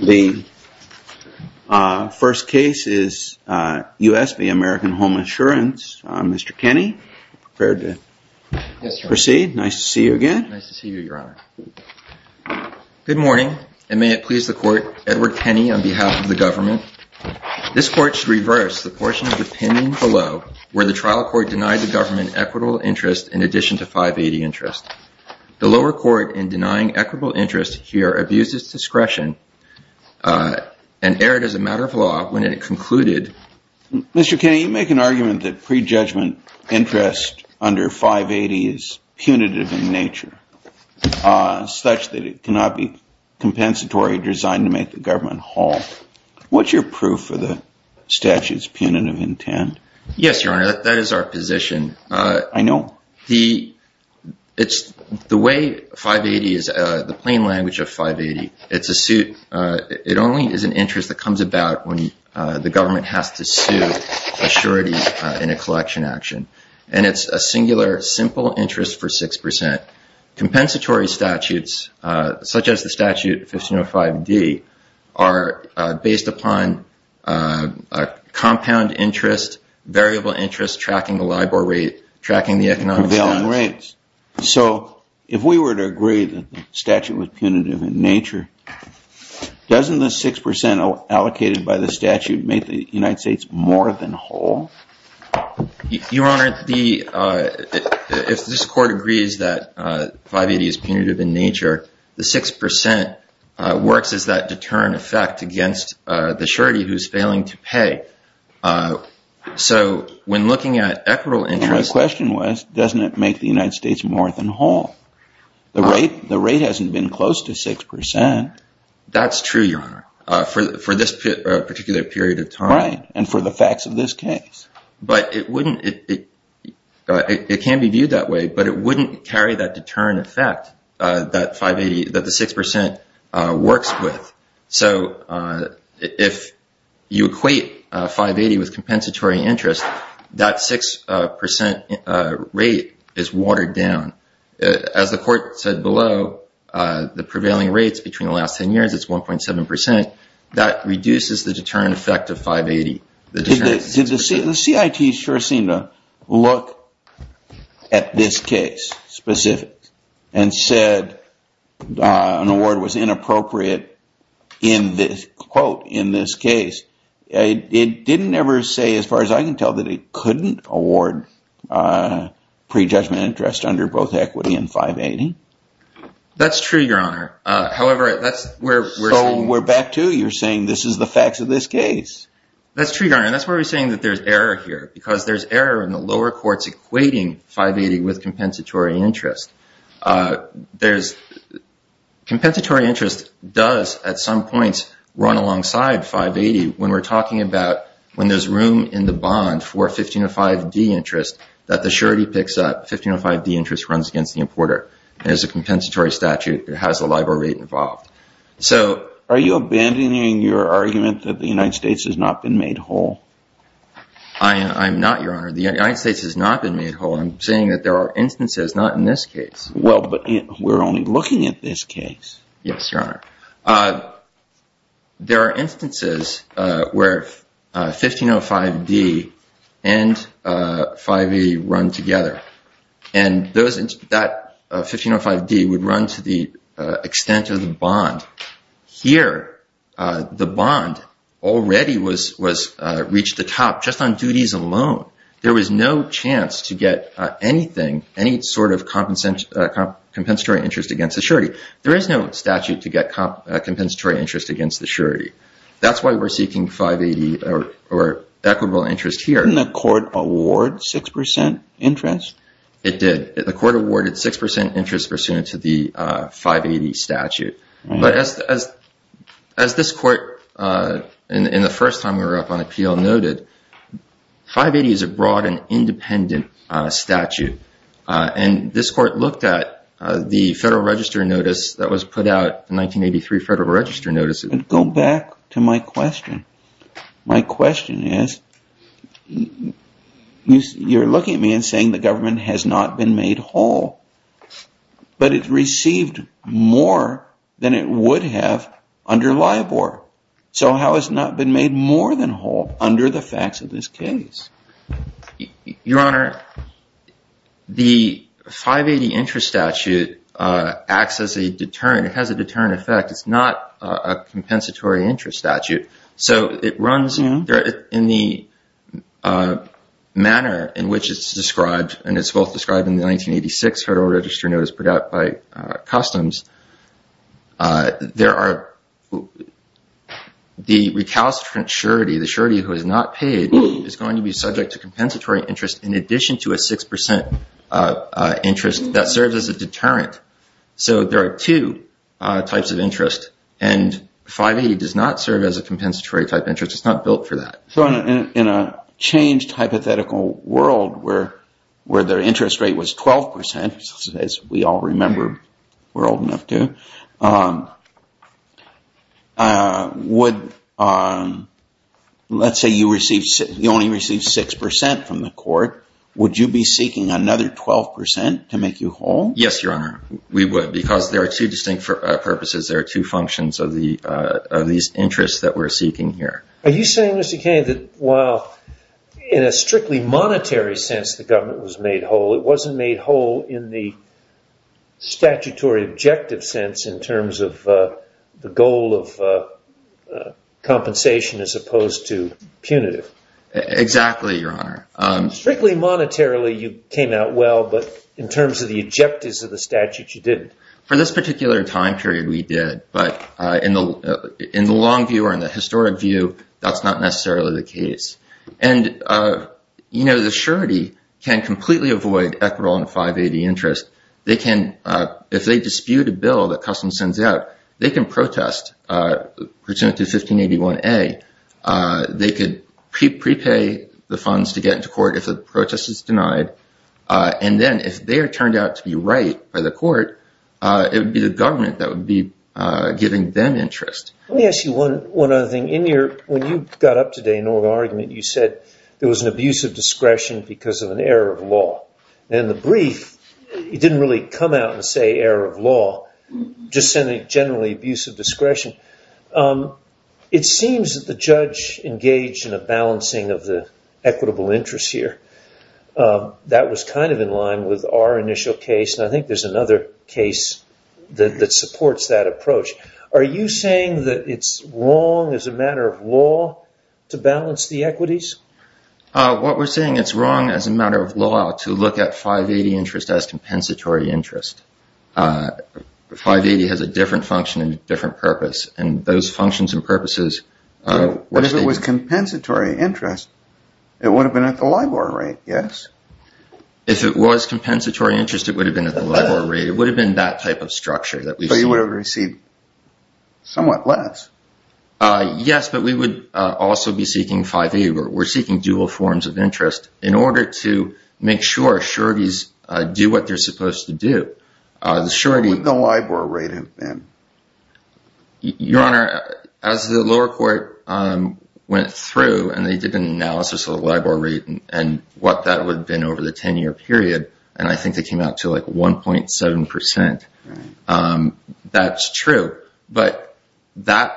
The first case is U.S. v. American Home Assurance. Mr. Kenney, are you prepared to proceed? Yes, Your Honor. Nice to see you again. Nice to see you, Your Honor. Good morning, and may it please the Court, Edward Kenney on behalf of the government. This Court should reverse the portion of the opinion below where the trial court denied the government equitable interest in addition to 580 interest. The lower court, in denying equitable interest here, abused its discretion and erred as a matter of law when it concluded Mr. Kenney, you make an argument that prejudgment interest under 580 is punitive in nature, such that it cannot be compensatory, designed to make the government haul. What's your proof of the statute's punitive intent? Yes, Your Honor, that is our position. I know. The way 580 is, the plain language of 580, it's a suit, it only is an interest that comes about when the government has to sue a surety in a collection action, and it's a singular simple interest for 6%. Compensatory statutes, such as the statute 1505D, are based upon compound interest, variable interest, tracking the LIBOR rate, tracking the economic balance. So, if we were to agree that the statute was punitive in nature, doesn't the 6% allocated by the statute make the United States more than whole? Your Honor, if this Court agrees that 580 is punitive in nature, the 6% works as that deterrent effect against the surety who's failing to pay. So, when looking at equitable interest... My question was, doesn't it make the United States more than whole? The rate hasn't been close to 6%. That's true, Your Honor, for this particular period of time. Right, and for the facts of this case. But it wouldn't, it can be viewed that way, but it wouldn't carry that deterrent effect that 580, that the 6% works with. So, if you equate 580 with compensatory interest, that 6% rate is watered down. As the Court said below, the prevailing rates between the last 10 years, it's 1.7%. That reduces the deterrent effect of 580. The CIT sure seemed to look at this case specifically, and said an award was inappropriate, quote, in this case. It didn't ever say, as far as I can tell, that it couldn't award prejudgment interest under both equity and 580. That's true, Your Honor. However, that's where we're saying... So, we're back to, you're saying, this is the facts of this case. That's true, Your Honor, and that's why we're saying that there's error here, because there's error in the lower courts equating 580 with compensatory interest. Compensatory interest does, at some points, run alongside 580, when we're talking about when there's room in the bond for 1505D interest, that the surety picks up, 1505D interest runs against the importer. There's a compensatory statute that has a LIBOR rate involved. So, are you abandoning your argument that the United States has not been made whole? I'm not, Your Honor. The United States has not been made whole. I'm saying that there are instances, not in this case. Well, but we're only looking at this case. Yes, Your Honor. There are instances where 1505D and 580 run together, and that 1505D would run to the extent of the bond. Here, the bond already reached the top, just on duties alone. There was no chance to get anything, any sort of compensatory interest against the surety. There is no statute to get compensatory interest against the surety. That's why we're seeking 580 or equitable interest here. Didn't the court award 6% interest? It did. The court awarded 6% interest pursuant to the 580 statute. As this court, in the first time we were up on appeal, noted, 580 is a broad and independent statute. This court looked at the Federal Register notice that was put out in 1983, Federal Register notice. Go back to my question. My question is, you're looking at me and saying the government has not been made whole, but it received more than it would have under LIBOR. So how has not been made more than whole under the facts of this case? Your Honor, the 580 interest statute acts as a deterrent. It has a deterrent effect. It's not a compensatory interest statute. So it runs in the manner in which it's described, and it's both described in the 1986 Federal Register notice put out by Customs. The recalcitrant surety, the surety who is not paid, is going to be subject to compensatory interest in addition to a 6% interest that serves as a deterrent. So there are two types of interest, and 580 does not serve as a compensatory type interest. It's not built for that. In a changed hypothetical world where their interest rate was 12%, as we all remember we're old enough to, would, let's say you only received 6% from the court, would you be able to get a 6% interest rate? Yes, Your Honor. We would, because there are two distinct purposes. There are two functions of these interests that we're seeking here. Are you saying, Mr. Kennedy, that while in a strictly monetary sense the government was made whole, it wasn't made whole in the statutory objective sense in terms of the goal of compensation as opposed to punitive? Exactly, Your Honor. Strictly monetarily you came out well, but in terms of the objectives of the statute you didn't. For this particular time period we did, but in the long view or in the historic view, that's not necessarily the case. And, you know, the surety can completely avoid equitable and 580 interest. They can, if they dispute a bill that Customs sends out, they can protest, pursuant to 1581A, they could prepay the funds to get into court if the protest is denied, and then if they are turned out to be right by the court, it would be the government that would be giving them interest. Let me ask you one other thing. In your, when you got up today in oral argument, you said there was an abuse of discretion because of an error of law. In the brief, you didn't really come out and say error of law, just said a generally abuse of discretion. It seems that the judge engaged in a balancing of the equitable interests here. That was kind of in line with our initial case, and I think there's another case that supports that approach. Are you saying that it's wrong as a matter of law to balance the equities? What we're saying, it's wrong as a matter of law to look at 580 interest as compensatory interest. 580 has a different function and a different purpose, and those functions and If it was compensatory interest, it would have been at the LIBOR rate, yes? If it was compensatory interest, it would have been at the LIBOR rate. It would have been that type of structure that we see. But you would have received somewhat less. Yes, but we would also be seeking 580. We're seeking dual forms of interest in order to make sure sureties do what they're supposed to do. What would the LIBOR rate have been? Your Honor, as the lower court went through and they did an analysis of the LIBOR rate and what that would have been over the 10-year period, and I think they came out to like 1.7 percent, that's true. But the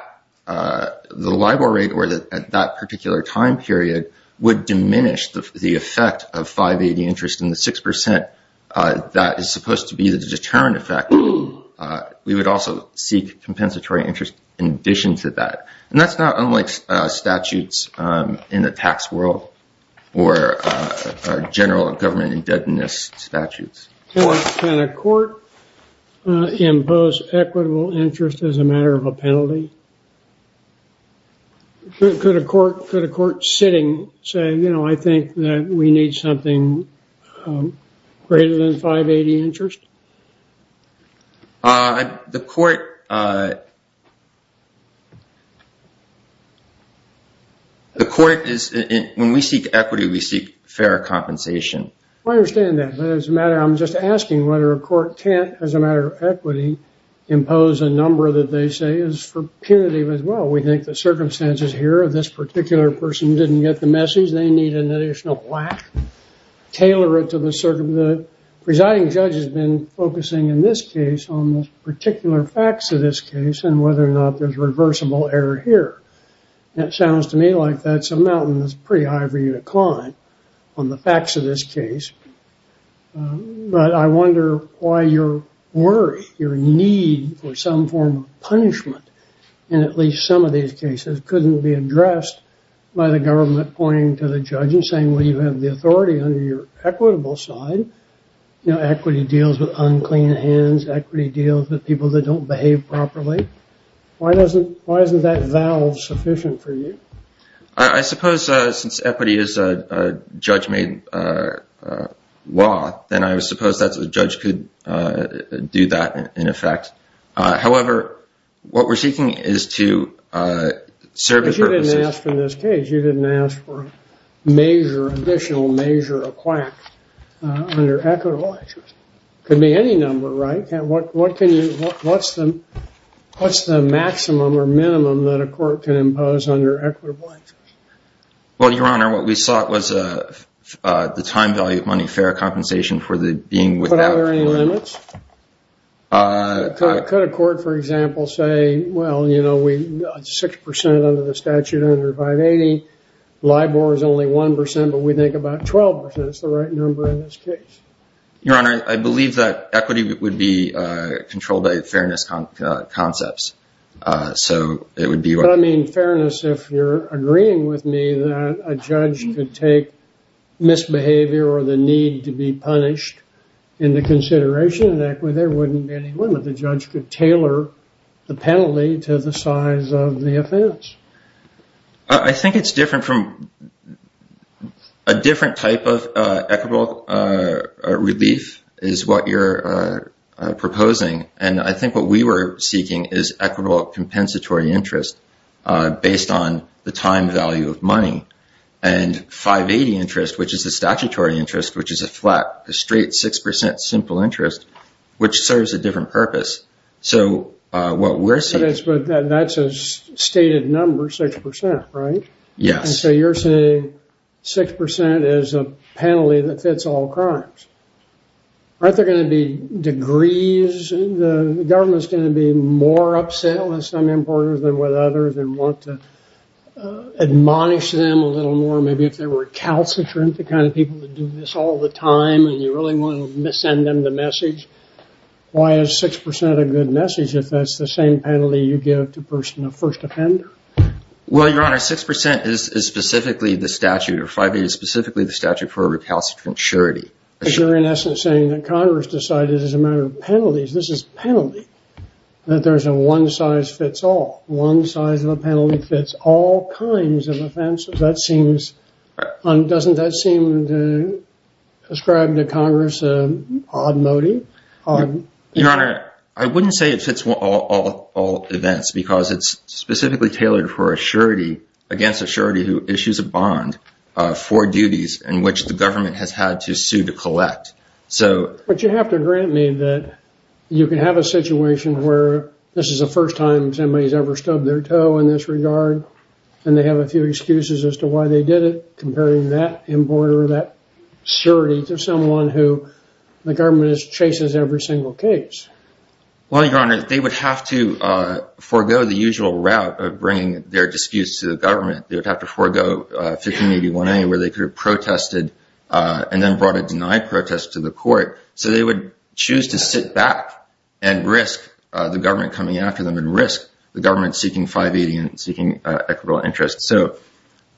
LIBOR rate at that particular time period would diminish the effect of 580 interest in the 6 percent that is supposed to be the deterrent effect. We would also seek compensatory interest in addition to that. And that's not unlike statutes in the tax world or general government indebtedness statutes. Or can a court impose equitable interest as a matter of a penalty? Could a court sitting say, you know, I think that we need something greater than 580 interest? The court is, when we seek equity, we seek fair compensation. I understand that, but I'm just asking whether a court can't, as a matter of equity, impose a number that they say is punitive as well. We think the circumstances here of this particular person who didn't get the message, they need an additional whack. The presiding judge has been focusing in this case on the particular facts of this case and whether or not there's reversible error here. That sounds to me like that's a mountain that's pretty high for you to climb on the facts of this case. But I wonder why your worry, your need for some form of punishment in at least some of these cases couldn't be addressed by the government pointing to the judge and saying, well, you have the authority under your equitable side. Equity deals with unclean hands. Equity deals with people that don't behave properly. Why isn't that valve sufficient for you? I suppose since equity is a judge-made law, then I suppose that the judge could do that in effect. However, what we're seeking is to service purposes. Because you didn't ask for this case. You didn't ask for a measure, additional measure, a quack under equitable actions. It could be any number, right? What's the maximum or minimum that a court can impose under equitable actions? Well, Your Honor, what we sought was the time value of money fair compensation for the being without. But are there any limits? Could a court, for example, say, well, you know, 6% under the statute under 580. LIBOR is only 1%, but we think about 12% is the right number in this case. Your Honor, I believe that equity would be controlled by fairness concepts. So it would be what I mean. Fairness, if you're agreeing with me that a judge could take misbehavior or the need to be punished into consideration in equity, there wouldn't be any limit. The judge could tailor the penalty to the size of the offense. I think it's different from a different type of equitable relief is what you're proposing. And I think what we were seeking is equitable compensatory interest based on the time value of money and 580 interest, which is the statutory interest, which is a flat, straight 6% simple interest, which serves a different purpose. So what we're saying is... But that's a stated number, 6%, right? Yes. And so you're saying 6% is a penalty that fits all crimes. Aren't there going to be degrees? The government's going to be more upset with some importers than with others and want to admonish them a little more, maybe if they were a calcitrant, the kind of people that do this all the time, and you really want to send them the message. Why is 6% a good message if that's the same penalty you give to a person, a first offender? Well, Your Honor, 6% is specifically the statute, or 580 is specifically the statute for a calcitrant surety. But you're in essence saying that Congress decided as a matter of penalties, this is a penalty, that there's a one size fits all. One size of a penalty fits all kinds of offenses. Doesn't that seem to ascribe to Congress an odd motive? Your Honor, I wouldn't say it fits all events because it's specifically tailored for a surety, against a surety who issues a bond for duties in which the government has had to sue to collect. But you have to grant me that you can have a situation where this is the first time somebody's ever stubbed their toe in this regard and they have a few excuses as to why they did it, comparing that importer or that surety to someone who the government chases every single case. Well, Your Honor, they would have to forego the usual route of bringing their disputes to the government. They would have to forego 1581A where they could have protested and then brought a denied protest to the court. So they would choose to sit back and risk the government coming after them and risk the government seeking 580 and seeking equitable interest. So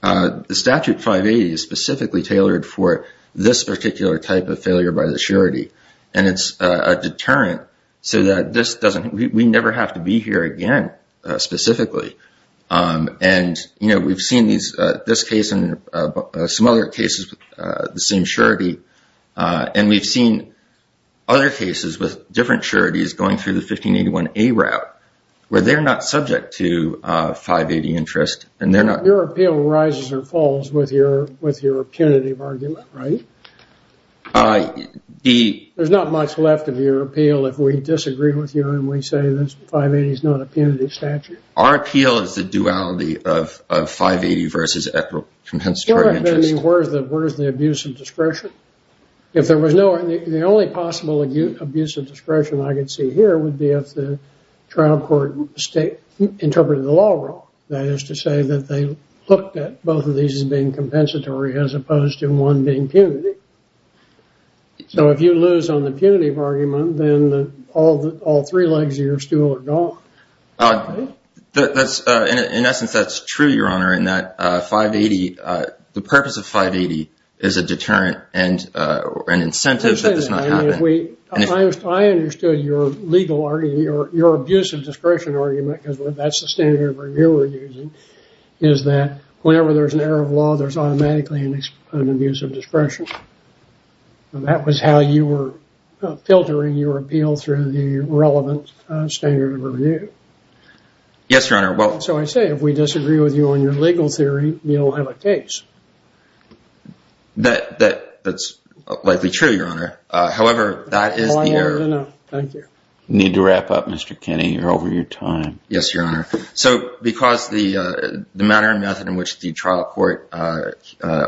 the statute 580 is specifically tailored for this particular type of failure by the surety. And it's a deterrent so that this doesn't, we never have to be here again specifically. And, you know, we've seen this case and some other cases with the same surety. And we've seen other cases with different sureties going through the 1581A route where they're not subject to 580 interest. Your appeal rises or falls with your punitive argument, right? There's not much left of your appeal if we disagree with you and we say 580 is not a punitive statute. Our appeal is the duality of 580 versus equitable compensatory interest. Where is the abuse of discretion? The only possible abuse of discretion I can see here would be if the trial court interpreted the law wrong. That is to say that they looked at both of these as being compensatory as opposed to one being punitive. So if you lose on the punitive argument, then all three legs of your stool are gone. In essence, that's true, Your Honor, in that 580, the purpose of 580 is a deterrent and an incentive that does not happen. I understood your legal argument, your abuse of discretion argument, because that's the standard of review we're using, is that whenever there's an error of law, there's automatically an abuse of discretion. That was how you were filtering your appeal through the relevant standard of review. Yes, Your Honor. So I say if we disagree with you on your legal theory, we don't have a case. That's likely true, Your Honor. However, that is the error. I need to wrap up, Mr. Kinney. You're over your time. Yes, Your Honor. So because the manner and method in which the trial court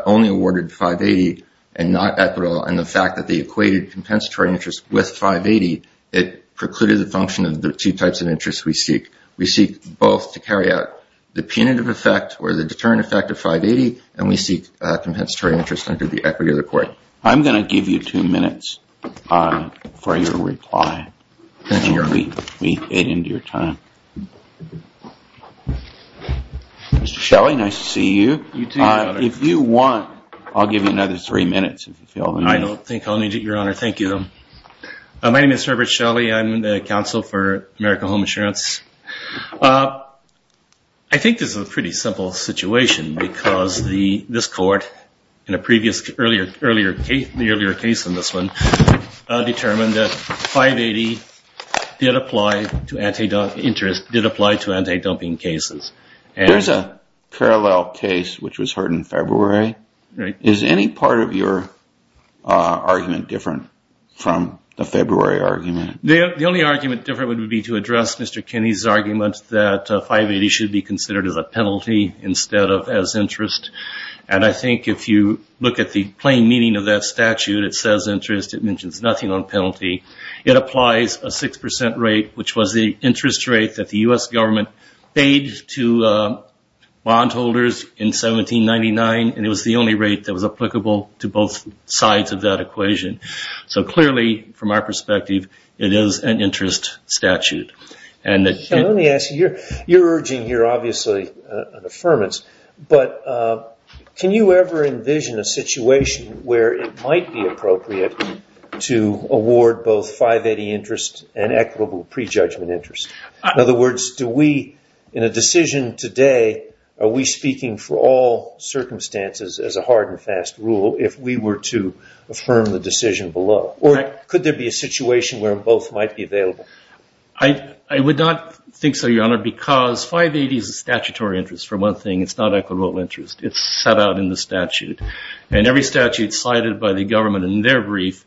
only awarded 580 and not equitable, and the fact that they equated compensatory interest with 580, it precluded the function of the two types of interest we seek. We seek both to carry out the punitive effect or the deterrent effect of 580, and we seek compensatory interest under the equity of the court. I'm going to give you two minutes for your reply. Thank you, Your Honor. We ate into your time. Mr. Shelley, nice to see you. You too, Your Honor. If you want, I'll give you another three minutes if you feel the need. I don't think I'll need it, Your Honor. Thank you. My name is Herbert Shelley. I'm the counsel for American Home Assurance. I think this is a pretty simple situation because this court, in the earlier case in this one, determined that 580 did apply to anti-dumping cases. There's a parallel case which was heard in February. Is any part of your argument different from the February argument? The only argument different would be to address Mr. Kinney's argument that 580 should be considered as a penalty instead of as interest. And I think if you look at the plain meaning of that statute, it says interest. It mentions nothing on penalty. It applies a 6% rate, which was the interest rate that the U.S. government paid to bondholders in 1799, and it was the only rate that was applicable to both sides of that equation. So clearly, from our perspective, it is an interest statute. Let me ask you, you're urging here obviously an affirmance, but can you ever envision a situation where it might be appropriate to award both 580 interest and equitable prejudgment interest? In other words, in a decision today, are we speaking for all circumstances as a hard and fast rule if we were to affirm the decision below? Or could there be a situation where both might be available? I would not think so, Your Honor, because 580 is a statutory interest, for one thing. It's not equitable interest. It's set out in the statute. And every statute cited by the government in their brief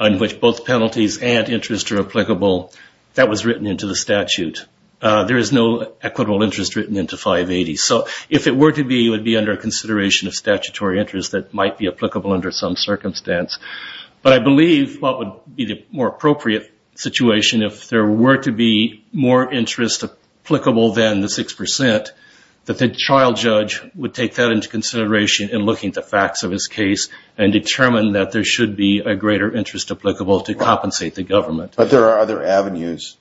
on which both penalties and interest are applicable, that was written into the statute. There is no equitable interest written into 580. So if it were to be, it would be under consideration of statutory interest that might be applicable under some circumstance. But I believe what would be the more appropriate situation, if there were to be more interest applicable than the 6%, that the child judge would take that into consideration in looking at the facts of his case and determine that there should be a greater interest applicable to compensate the government. But there are other avenues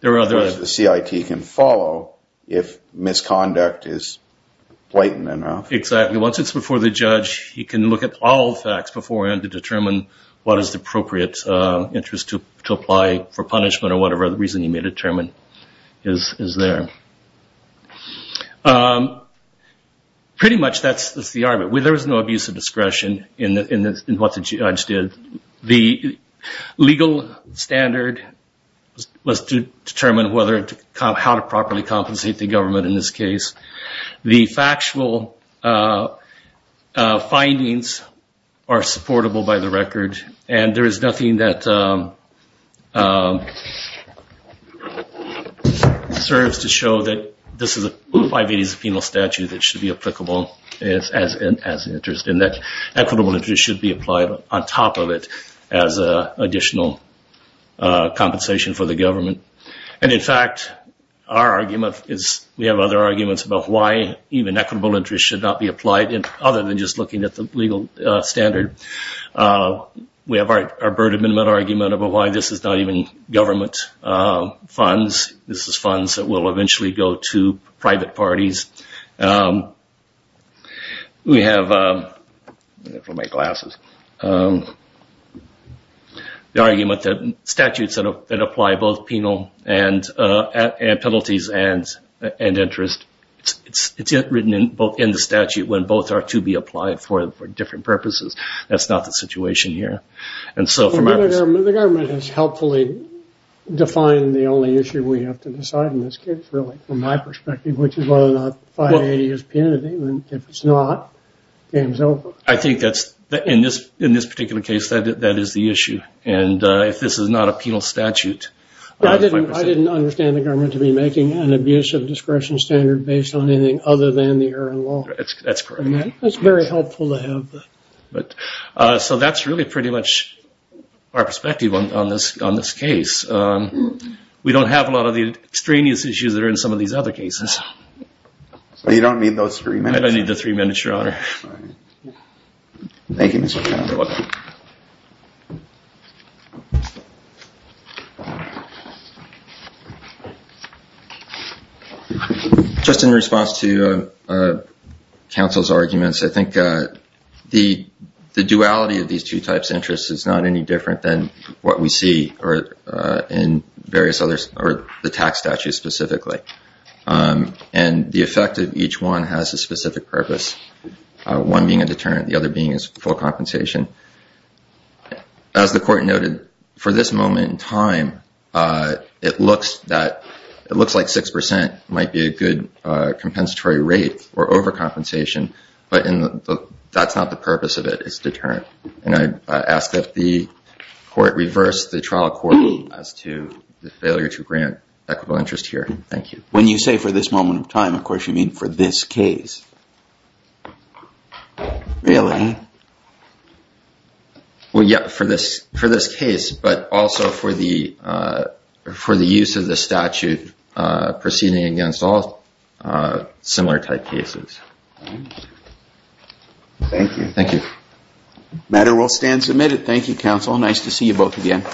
the CIT can follow if misconduct is blatant enough. Exactly. Once it's before the judge, he can look at all the facts beforehand to determine what is the appropriate interest to apply for punishment or whatever reason he may determine is there. Pretty much that's the argument. There is no abuse of discretion in what the judge did. The legal standard was to determine how to properly compensate the government in this case. The factual findings are supportable by the record, and there is nothing that serves to show that this is a 580 is a penal statute that should be applicable as interest and that equitable interest should be applied on top of it as additional compensation for the government. In fact, we have other arguments about why even equitable interest should not be applied other than just looking at the legal standard. We have our Bird Amendment argument about why this is not even government funds. This is funds that will eventually go to private parties. We have the argument that statutes that apply both penal penalties and interest, it's written in the statute when both are to be applied for different purposes. That's not the situation here. The government has helpfully defined the only issue we have to decide in this case, really, from my perspective, which is whether or not 580 is penalty. If it's not, game's over. I think that's, in this particular case, that is the issue. And if this is not a penal statute... I didn't understand the government to be making an abuse of discretion standard based on anything other than the error in law. That's correct. That's very helpful to have. So that's really pretty much our perspective on this case. We don't have a lot of the extraneous issues that are in some of these other cases. So you don't need those three minutes? I don't need the three minutes, Your Honor. Thank you, Mr. Chairman. You're welcome. Just in response to counsel's arguments, I think the duality of these two types of interests is not any different than what we see in the tax statute specifically. And the effect of each one has a specific purpose, one being a deterrent, the other being full compensation. As the Court noted, for this moment in time, it looks like 6% might be a good compensatory rate or overcompensation. But that's not the purpose of it. It's deterrent. And I ask that the Court reverse the trial court as to the failure to grant equitable interest here. Thank you. When you say for this moment in time, of course you mean for this case. Really? Well, yeah, for this case, but also for the use of the statute proceeding against all similar type cases. Thank you. Thank you. The matter will stand submitted. Thank you, counsel. Nice to see you both again.